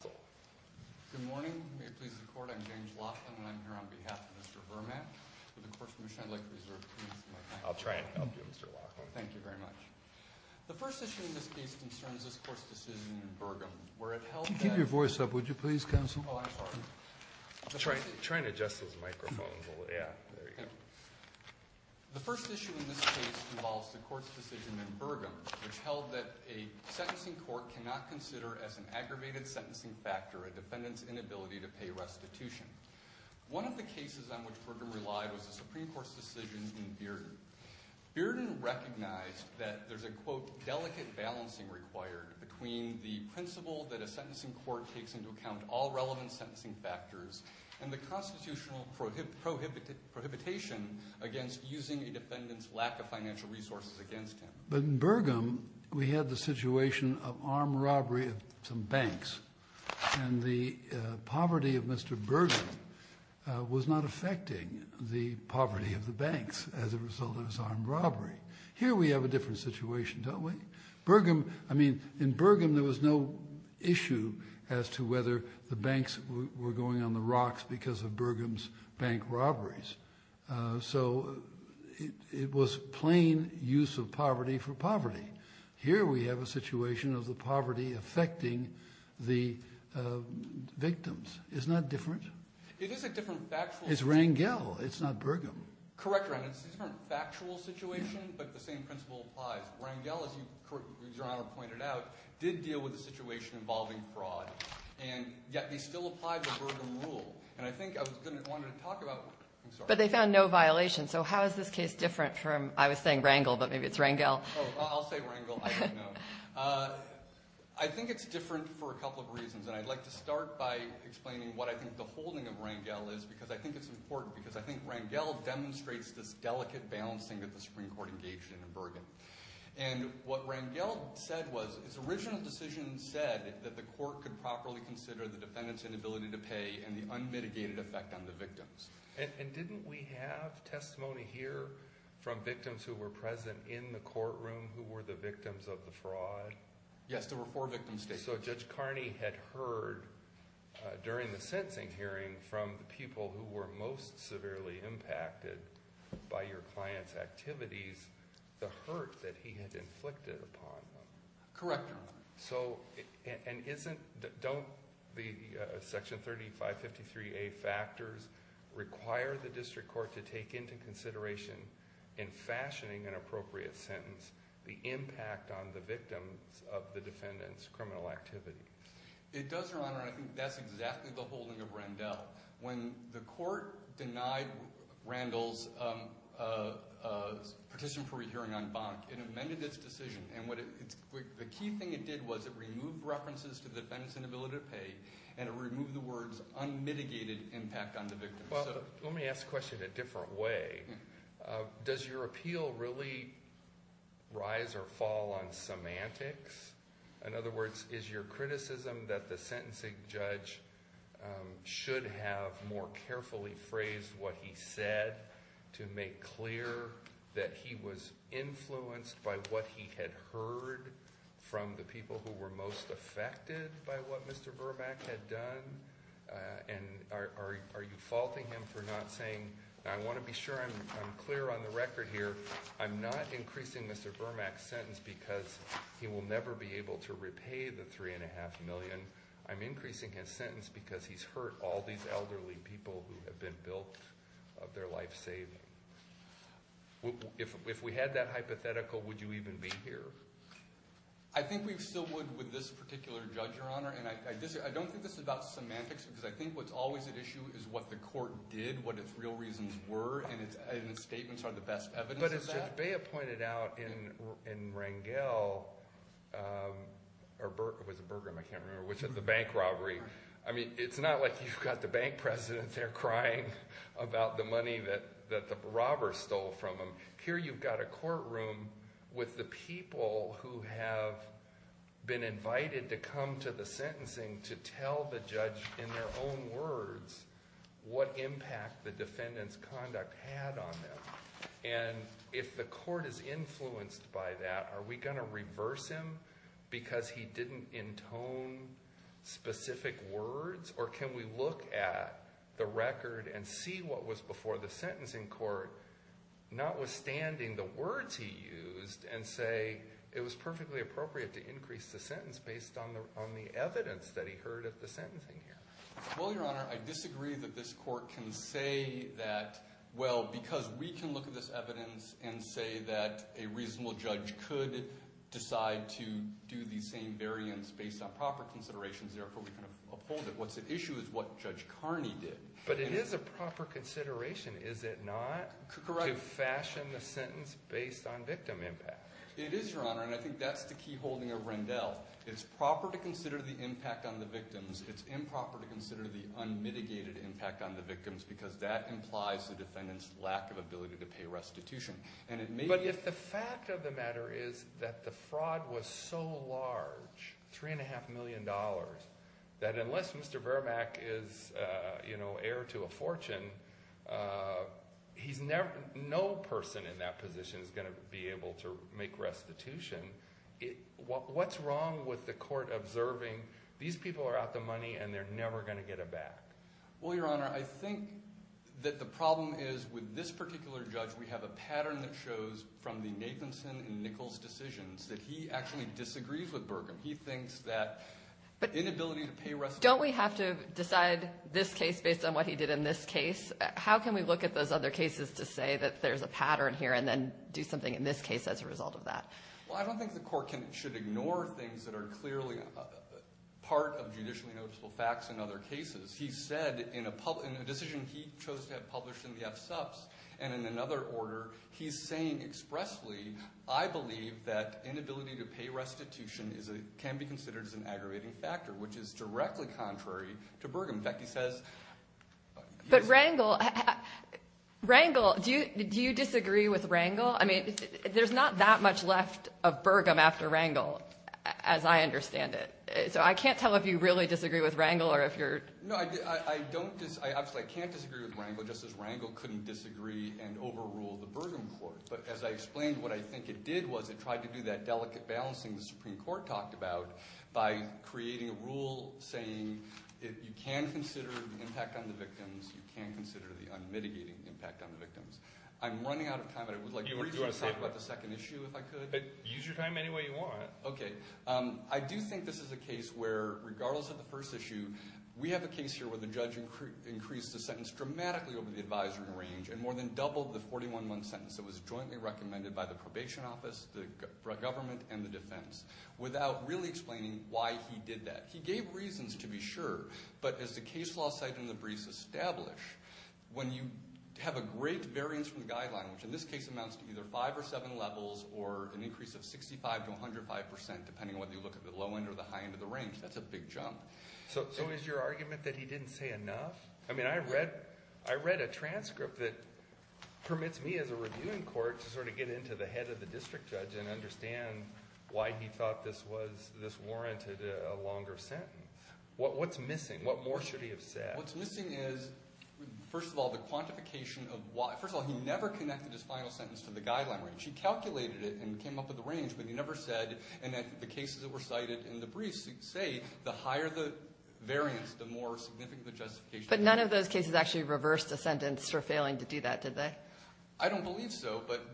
Good morning. May it please the Court, I'm James Laughlin, and I'm here on behalf of Mr. Vermaak for the Court's mission. I'd like to reserve the floor to Mr. Laughlin. I'll try and help you, Mr. Laughlin. Thank you very much. The first issue in this case concerns this Court's decision in Burgum, where it held that... Could you keep your voice up, would you, please, Counsel? Oh, I'm sorry. The first issue in this case involves the Court's decision in Burgum, which held that a sentencing court cannot consider as an aggravated sentencing factor a defendant's inability to pay restitution. One of the cases on which Burgum relied was the Supreme Court's decision in Bearden. Bearden recognized that there's a, quote, delicate balancing required between the principle that a sentencing court takes into account all relevant sentencing factors and the constitutional prohibitation against using a defendant's lack of financial resources against him. But in Burgum, we had the situation of armed robbery of some banks, and the poverty of Mr. Burgum was not affecting the poverty of the banks as a result of this armed robbery. Here we have a different situation, don't we? Burgum... I mean, in Burgum, there was no issue as to whether the banks were going on the rocks because of Burgum's bank robberies. So it was plain use of poverty for poverty. Here we have a situation of the poverty affecting the victims. Isn't that different? It is a different factual... It's Rangel. It's not Burgum. Correct, Your Honor. It's a different factual situation, but the same principle applies. Rangel, as Your Honor pointed out, did deal with a situation involving fraud, and yet they still applied the Burgum rule. And I think I wanted to talk about... I'm sorry. But they found no violation. So how is this case different from... I was saying Rangel, but maybe it's Rangel. Oh, I'll say Rangel. I don't know. I think it's different for a couple of reasons, and I'd like to start by explaining what I think the holding of Rangel is because I think it's important because I think Rangel demonstrates this delicate balancing that the Supreme Court engaged in in Burgum. And what Rangel said was its original decision said that the court could properly consider the defendant's inability to pay and the unmitigated effect on the victims. And didn't we have testimony here from victims who were present in the courtroom who were the victims of the fraud? Yes, there were four victims stated. Okay, so Judge Carney had heard during the sentencing hearing from the people who were most severely impacted by your client's activities the hurt that he had inflicted upon them. And don't the Section 3553A factors require the district court to take into consideration in fashioning an appropriate sentence the impact on the victims of the defendant's criminal activity? It does, Your Honor, and I think that's exactly the holding of Rangel. When the court denied Rangel's petition for a hearing on Bonk, it amended its decision. And the key thing it did was it removed references to the defendant's inability to pay and it removed the words unmitigated impact on the victims. Well, let me ask the question a different way. Does your appeal really rise or fall on semantics? In other words, is your criticism that the sentencing judge should have more carefully phrased what he said to make clear that he was influenced by what he had heard from the people who were most affected by what Mr. Burmak had done? And are you faulting him for not saying, I want to be sure I'm clear on the record here, I'm not increasing Mr. Burmak's sentence because he will never be able to repay the $3.5 million. I'm increasing his sentence because he's hurt all these elderly people who have been built of their life saving. If we had that hypothetical, would you even be here? I think we still would with this particular judge, Your Honor. And I don't think this is about semantics because I think what's always at issue is what the court did, what its real reasons were, and its statements are the best evidence of that. But as Judge Beah pointed out in Rangel, or was it Burgum, I can't remember, which is the bank robbery. I mean, it's not like you've got the bank president there crying about the money that the robbers stole from him. Here you've got a courtroom with the people who have been invited to come to the sentencing to tell the judge in their own words what impact the defendant's conduct had on them. And if the court is influenced by that, are we going to reverse him because he didn't intone specific words? Or can we look at the record and see what was before the sentencing court, notwithstanding the words he used, and say it was perfectly appropriate to increase the sentence based on the evidence that he heard at the sentencing here? Well, Your Honor, I disagree that this court can say that, well, because we can look at this evidence and say that a reasonable judge could decide to do the same variance based on proper considerations, therefore we kind of uphold it. What's at issue is what Judge Carney did. But it is a proper consideration, is it not? Correct. To fashion the sentence based on victim impact. It is, Your Honor, and I think that's the key holding of Rangel. It's proper to consider the impact on the victims. It's improper to consider the unmitigated impact on the victims because that implies the defendant's lack of ability to pay restitution. But if the fact of the matter is that the fraud was so large, $3.5 million, that unless Mr. Verback is heir to a fortune, he's never – no person in that position is going to be able to make restitution. What's wrong with the court observing these people are out the money and they're never going to get it back? Well, Your Honor, I think that the problem is with this particular judge, we have a pattern that shows from the Nathanson and Nichols decisions that he actually disagrees with Burkham. He thinks that inability to pay restitution – Don't we have to decide this case based on what he did in this case? How can we look at those other cases to say that there's a pattern here and then do something in this case as a result of that? Well, I don't think the court should ignore things that are clearly part of judicially noticeable facts in other cases. He said in a decision he chose to have published in the FSUPs and in another order, he's saying expressly, I believe that inability to pay restitution can be considered as an aggravating factor, which is directly contrary to Burkham. In fact, he says – But Rangel – Rangel – do you disagree with Rangel? I mean there's not that much left of Burkham after Rangel as I understand it. So I can't tell if you really disagree with Rangel or if you're – No, I don't – obviously I can't disagree with Rangel just as Rangel couldn't disagree and overrule the Burkham court. But as I explained, what I think it did was it tried to do that delicate balancing the Supreme Court talked about by creating a rule saying you can consider the impact on the victims, you can consider the unmitigating impact on the victims. I'm running out of time and I would like to briefly talk about the second issue if I could. Use your time any way you want. Okay. I do think this is a case where regardless of the first issue, we have a case here where the judge increased the sentence dramatically over the advisory range and more than doubled the 41-month sentence that was jointly recommended by the probation office, the government, and the defense without really explaining why he did that. He gave reasons to be sure, but as the case law cited in the briefs establish, when you have a great variance from the guideline, which in this case amounts to either five or seven levels or an increase of 65 to 105 percent, depending on whether you look at the low end or the high end of the range, that's a big jump. So is your argument that he didn't say enough? I mean I read a transcript that permits me as a reviewing court to sort of get into the head of the district judge and understand why he thought this was – this warranted a longer sentence. What's missing? What more should he have said? What's missing is, first of all, the quantification of why. First of all, he never connected his final sentence to the guideline range. He calculated it and came up with the range, but he never said. And the cases that were cited in the briefs say the higher the variance, the more significant the justification. But none of those cases actually reversed a sentence for failing to do that, did they? I don't believe so, but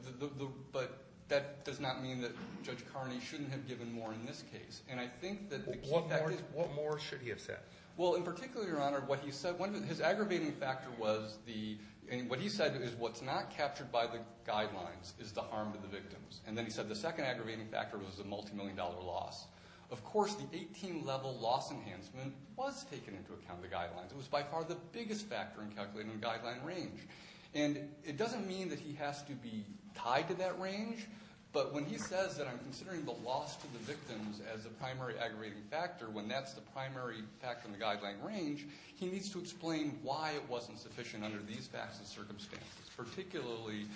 that does not mean that Judge Carney shouldn't have given more in this case. And I think that the key fact is – What more should he have said? Well, in particular, Your Honor, what he said – his aggravating factor was the – what he said is what's not captured by the guidelines is the harm to the victims. And then he said the second aggravating factor was the multimillion-dollar loss. Of course, the 18-level loss enhancement was taken into account in the guidelines. It was by far the biggest factor in calculating the guideline range. And it doesn't mean that he has to be tied to that range, but when he says that I'm considering the loss to the victims as the primary aggravating factor, when that's the primary factor in the guideline range, he needs to explain why it wasn't sufficient under these facts and circumstances, particularly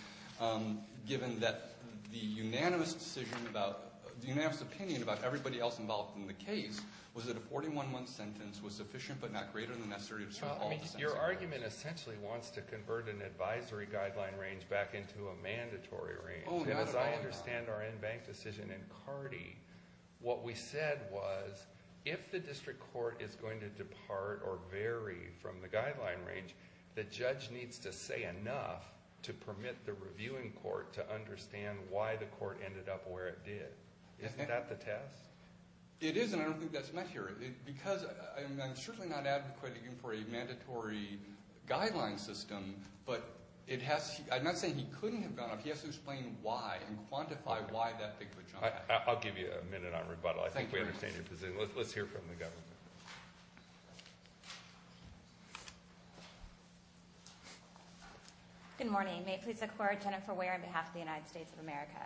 given that the unanimous decision about – the unanimous opinion about everybody else involved in the case was that a 41-1 sentence was sufficient but not greater than necessary to serve all the senses. Your argument essentially wants to convert an advisory guideline range back into a mandatory range. Oh, not at all, Your Honor. When we tried to understand our in-bank decision in Cardi, what we said was if the district court is going to depart or vary from the guideline range, the judge needs to say enough to permit the reviewing court to understand why the court ended up where it did. Isn't that the test? It is, and I don't think that's met here. Because I'm certainly not advocating for a mandatory guideline system, but it has – I'm not saying he couldn't have gone up. He has to explain why and quantify why that thing would jump back. I'll give you a minute on rebuttal. I think we understand your position. Let's hear from the government. Good morning. May it please the Court, Jennifer Ware on behalf of the United States of America.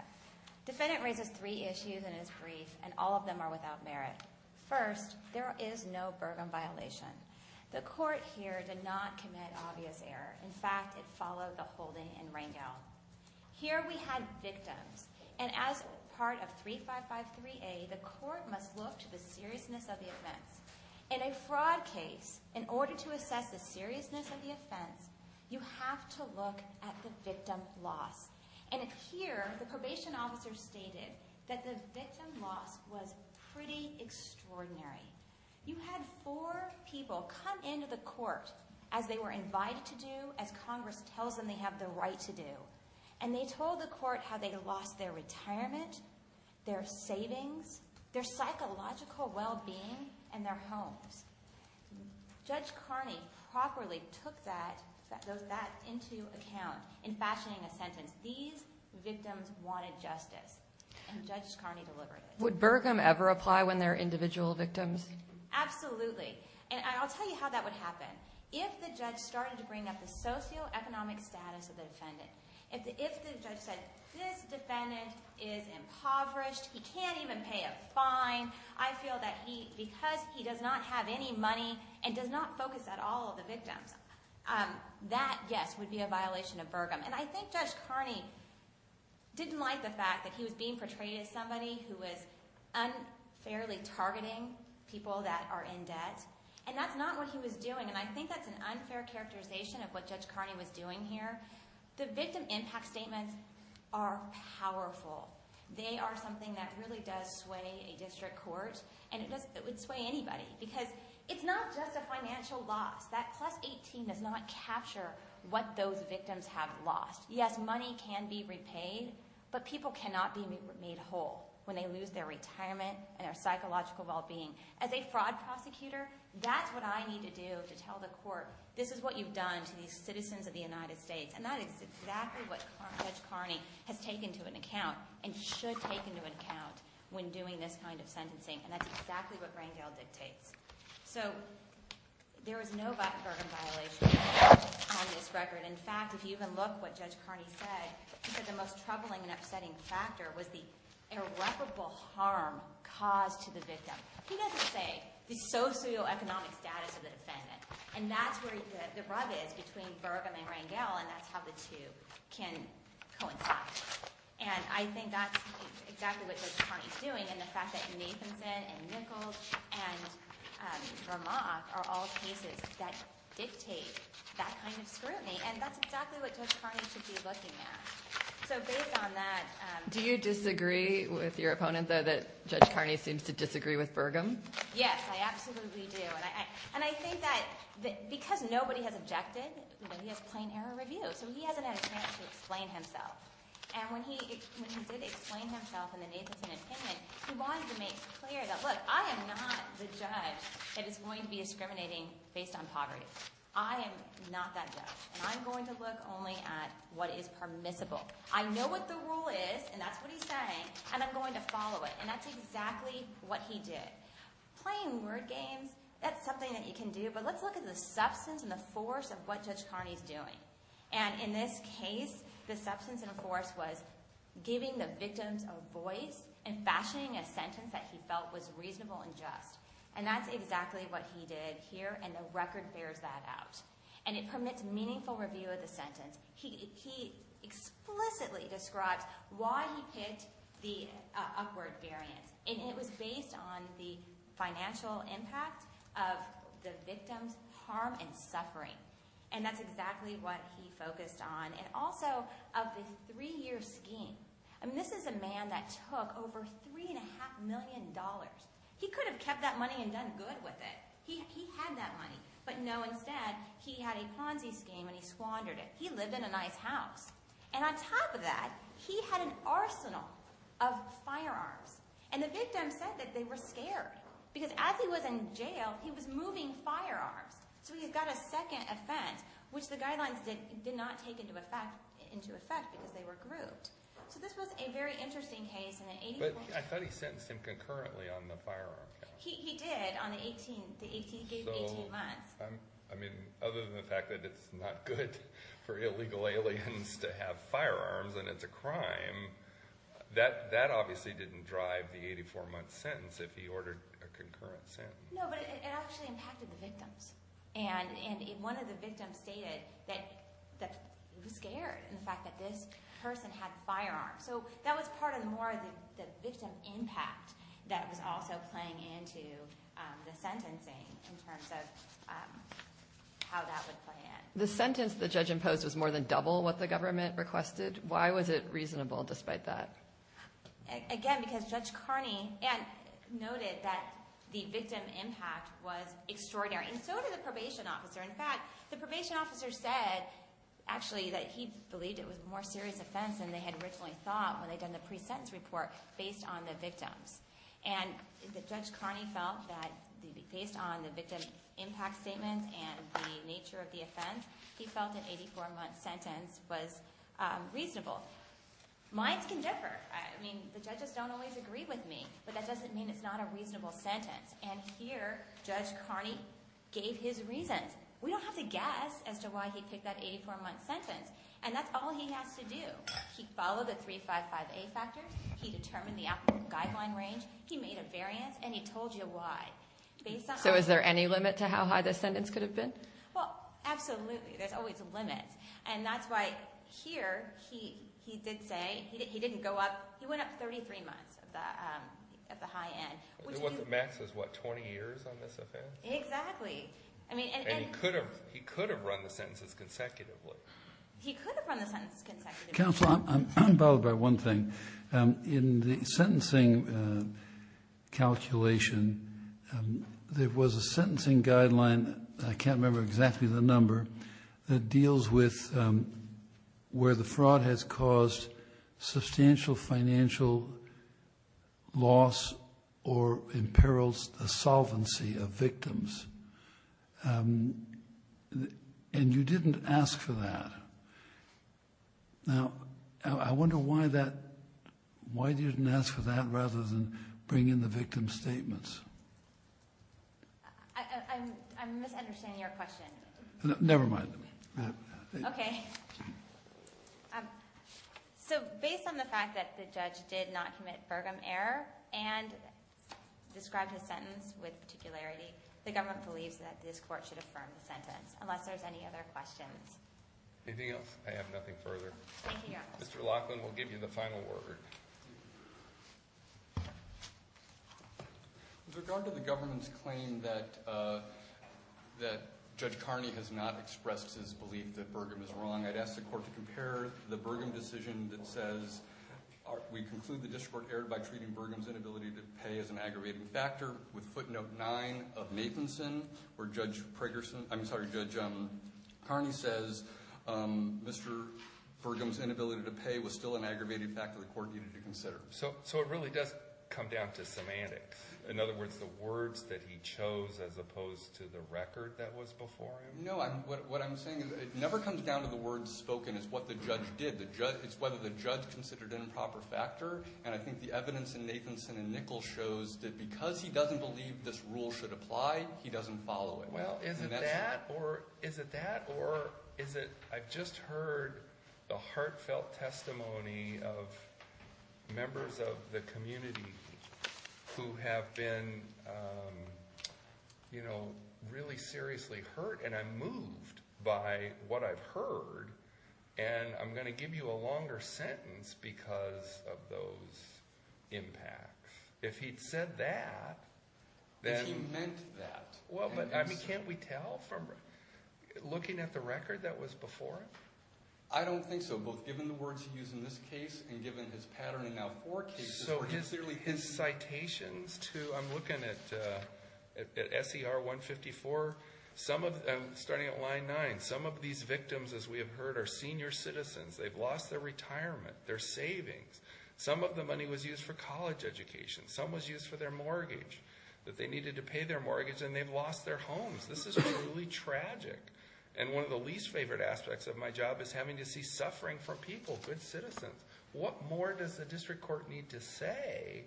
Defendant raises three issues in his brief, and all of them are without merit. First, there is no Bergen violation. The Court here did not commit obvious error. In fact, it followed the holding in Rangel. Here we had victims, and as part of 3553A, the Court must look to the seriousness of the offense. In a fraud case, in order to assess the seriousness of the offense, you have to look at the victim loss. And here, the probation officer stated that the victim loss was pretty extraordinary. You had four people come into the Court as they were invited to do, as Congress tells them they have the right to do, and they told the Court how they lost their retirement, their savings, their psychological well-being, and their homes. Judge Carney properly took that into account in fashioning a sentence. These victims wanted justice, and Judge Carney delivered it. Would Bergen ever apply when there are individual victims? Absolutely. And I'll tell you how that would happen. If the judge started to bring up the socioeconomic status of the defendant, if the judge said, this defendant is impoverished, he can't even pay a fine, I feel that because he does not have any money and does not focus at all on the victims, that, yes, would be a violation of Bergen. And I think Judge Carney didn't like the fact that he was being portrayed as somebody who was unfairly targeting people that are in debt, and that's not what he was doing. And I think that's an unfair characterization of what Judge Carney was doing here. The victim impact statements are powerful. They are something that really does sway a district court, and it would sway anybody because it's not just a financial loss. That plus 18 does not capture what those victims have lost. Yes, money can be repaid, but people cannot be made whole when they lose their retirement and their psychological well-being. As a fraud prosecutor, that's what I need to do to tell the court, this is what you've done to these citizens of the United States, and that is exactly what Judge Carney has taken to an account and should take into account when doing this kind of sentencing, and that's exactly what Rangel dictates. So there is no Bergen violation on this record. In fact, if you even look at what Judge Carney said, he said the most troubling and upsetting factor was the irreparable harm caused to the victim. He doesn't say the socioeconomic status of the defendant, and that's where the rug is between Bergen and Rangel, and that's how the two can coincide. And I think that's exactly what Judge Carney is doing, and the fact that Nathanson and Nichols and Vermont are all cases that dictate that kind of scrutiny, and that's exactly what Judge Carney should be looking at. So based on that— Do you disagree with your opponent, though, that Judge Carney seems to disagree with Bergen? Yes, I absolutely do. And I think that because nobody has objected, he has plain error review, so he hasn't had a chance to explain himself. And when he did explain himself in the Nathanson opinion, he wanted to make clear that, look, I am not the judge that is going to be discriminating based on poverty. I am not that judge, and I'm going to look only at what is permissible. I know what the rule is, and that's what he's saying, and I'm going to follow it. And that's exactly what he did. Playing word games, that's something that you can do, but let's look at the substance and the force of what Judge Carney is doing. And in this case, the substance and force was giving the victims a voice and fashioning a sentence that he felt was reasonable and just, and that's exactly what he did here, and the record bears that out. And it permits meaningful review of the sentence. He explicitly describes why he picked the upward variance, and it was based on the financial impact of the victims' harm and suffering, and that's exactly what he focused on, and also of the three-year scheme. I mean, this is a man that took over $3.5 million. He could have kept that money and done good with it. He had that money, but no, instead, he had a Ponzi scheme, and he squandered it. He lived in a nice house. And on top of that, he had an arsenal of firearms, and the victims said that they were scared because as he was in jail, he was moving firearms. So he got a second offense, which the guidelines did not take into effect because they were grouped. So this was a very interesting case. But I thought he sentenced him concurrently on the firearm count. He did on the 18th. He gave 18 months. I mean, other than the fact that it's not good for illegal aliens to have firearms and it's a crime, that obviously didn't drive the 84-month sentence if he ordered a concurrent sentence. No, but it actually impacted the victims. And one of the victims stated that he was scared in the fact that this person had firearms. So that was part of more of the victim impact that was also playing into the sentencing in terms of how that would play in. The sentence the judge imposed was more than double what the government requested. Why was it reasonable despite that? Again, because Judge Carney noted that the victim impact was extraordinary, and so did the probation officer. In fact, the probation officer said actually that he believed it was a more serious offense than they had originally thought when they'd done the pre-sentence report based on the victims. And Judge Carney felt that based on the victim impact statements and the nature of the offense, he felt an 84-month sentence was reasonable. Minds can differ. I mean, the judges don't always agree with me, but that doesn't mean it's not a reasonable sentence. And here, Judge Carney gave his reasons. We don't have to guess as to why he picked that 84-month sentence, and that's all he has to do. He followed the 355A factors, he determined the applicable guideline range, he made a variance, and he told you why. So is there any limit to how high the sentence could have been? Well, absolutely. There's always limits. And that's why here he did say he didn't go up. He went up 33 months of the high end. What the max is, what, 20 years on this offense? Exactly. And he could have run the sentences consecutively. He could have run the sentences consecutively. Counsel, I'm bothered by one thing. In the sentencing calculation, there was a sentencing guideline, I can't remember exactly the number, that deals with where the fraud has caused substantial financial loss or imperils the solvency of victims. And you didn't ask for that. Now, I wonder why that, why you didn't ask for that rather than bring in the victim's statements. I'm misunderstanding your question. Never mind. Okay. So based on the fact that the judge did not commit Burgum error and described his sentence with particularity, the government believes that this court should affirm the sentence, unless there's any other questions. Anything else? I have nothing further. Thank you, Your Honor. Mr. Laughlin will give you the final word. Thank you. With regard to the government's claim that Judge Carney has not expressed his belief that Burgum is wrong, I'd ask the court to compare the Burgum decision that says, we conclude the district court erred by treating Burgum's inability to pay as an aggravating factor with footnote 9 of Nathanson, where Judge Carney says Mr. Burgum's inability to pay was still an aggravating factor the court needed to consider. So it really does come down to semantics. In other words, the words that he chose as opposed to the record that was before him? No. What I'm saying is it never comes down to the words spoken. It's what the judge did. It's whether the judge considered an improper factor. And I think the evidence in Nathanson and Nichols shows that because he doesn't believe this rule should apply, he doesn't follow it. Well, is it that or is it I've just heard the heartfelt testimony of members of the community who have been, you know, really seriously hurt and I'm moved by what I've heard and I'm going to give you a longer sentence because of those impacts. If he'd said that, then. If he meant that. Well, but, I mean, can't we tell from looking at the record that was before him? I don't think so. Both given the words he used in this case and given his pattern in now four cases where he's clearly hinting. So his citations to, I'm looking at SER 154, starting at line 9, some of these victims, as we have heard, are senior citizens. They've lost their retirement, their savings. Some of the money was used for college education. Some was used for their mortgage that they needed to pay their mortgage, and they've lost their homes. This is truly tragic. And one of the least favorite aspects of my job is having to see suffering from people, good citizens. What more does the district court need to say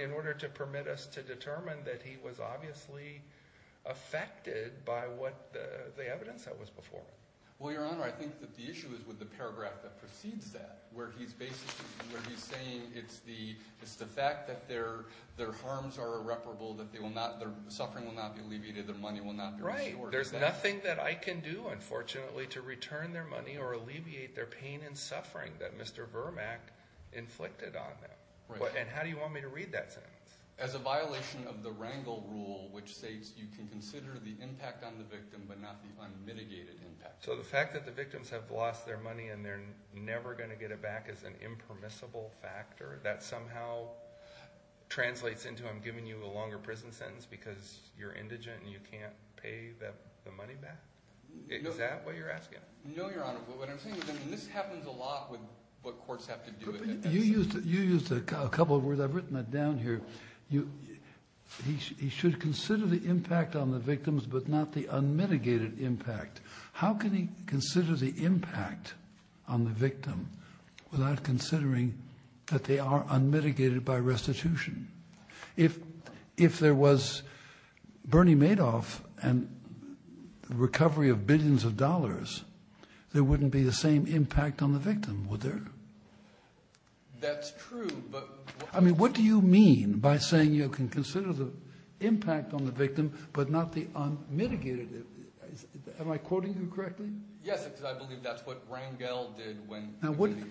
in order to permit us to determine that he was obviously affected by what the evidence that was before him? Well, Your Honor, I think that the issue is with the paragraph that precedes that where he's saying it's the fact that their harms are irreparable, that their suffering will not be alleviated, their money will not be restored. Right. There's nothing that I can do, unfortunately, to return their money or alleviate their pain and suffering that Mr. Vermack inflicted on them. And how do you want me to read that sentence? As a violation of the Rangel rule, which states you can consider the impact on the victim but not the unmitigated impact. So the fact that the victims have lost their money and they're never going to get it back is an impermissible factor. That somehow translates into him giving you a longer prison sentence because you're indigent and you can't pay the money back? Is that what you're asking? No, Your Honor. What I'm saying is this happens a lot with what courts have to do with it. You used a couple of words. I've written that down here. He should consider the impact on the victims but not the unmitigated impact. How can he consider the impact on the victim without considering that they are unmitigated by restitution? If there was Bernie Madoff and the recovery of billions of dollars, there wouldn't be the same impact on the victim, would there? That's true, but what do you mean by saying you can consider the impact on the victim but not the unmitigated? Am I quoting you correctly? Yes, because I believe that's what Rangel did.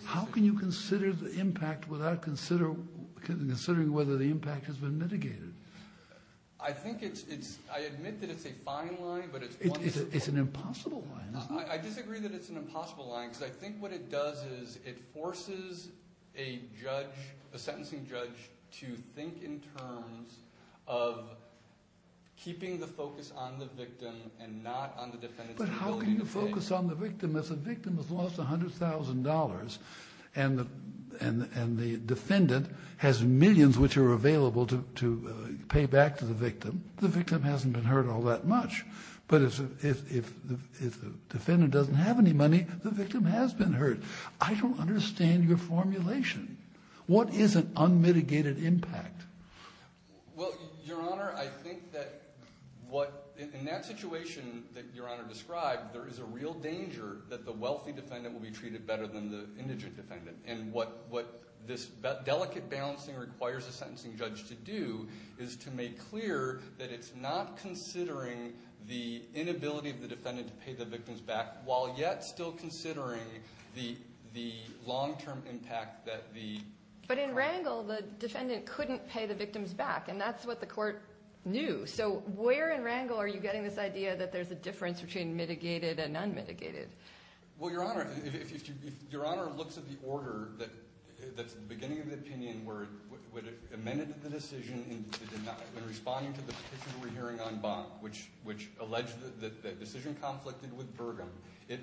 How can you consider the impact without considering whether the impact has been mitigated? I admit that it's a fine line, but it's one that's important. It's an impossible line, isn't it? I disagree that it's an impossible line because I think what it does is it forces a sentencing judge to think in terms of keeping the focus on the victim and not on the defendant's ability to pay. But how can you focus on the victim if the victim has lost $100,000 and the defendant has millions which are available to pay back to the victim? The victim hasn't been hurt all that much, but if the defendant doesn't have any money, the victim has been hurt. I don't understand your formulation. What is an unmitigated impact? Well, Your Honor, I think that in that situation that Your Honor described, there is a real danger that the wealthy defendant will be treated better than the indigent defendant. And what this delicate balancing requires a sentencing judge to do is to make clear that it's not considering the inability of the defendant to pay the victim's back while yet still considering the long-term impact that the crime. But in Rangel, the defendant couldn't pay the victim's back, and that's what the court knew. So where in Rangel are you getting this idea that there's a difference between mitigated and unmitigated? Well, Your Honor, if Your Honor looks at the order that's at the beginning of the opinion where it amended the decision in responding to the petition we're hearing on Bonn, which alleged that the decision conflicted with Burgum, it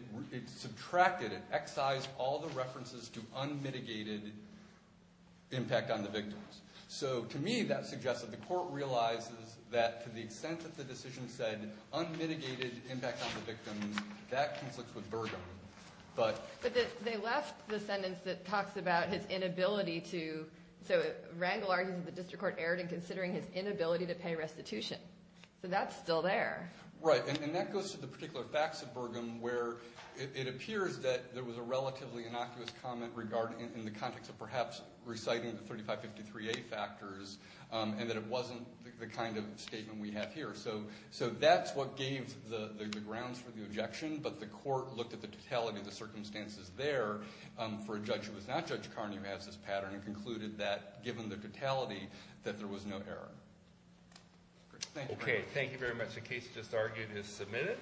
subtracted, it excised all the references to unmitigated impact on the victims. So to me, that suggests that the court realizes that to the extent that the decision said unmitigated impact on the victims, that conflicts with Burgum. But they left the sentence that talks about his inability to – so Rangel argues that the district court erred in considering his inability to pay restitution. So that's still there. Right, and that goes to the particular facts of Burgum where it appears that there was a relatively innocuous comment in the context of perhaps reciting the 3553A factors and that it wasn't the kind of statement we have here. So that's what gave the grounds for the objection, but the court looked at the totality of the circumstances there for a judge who was not Judge Carney who has this pattern and concluded that given the totality that there was no error. Okay, thank you very much. The case just argued is submitted.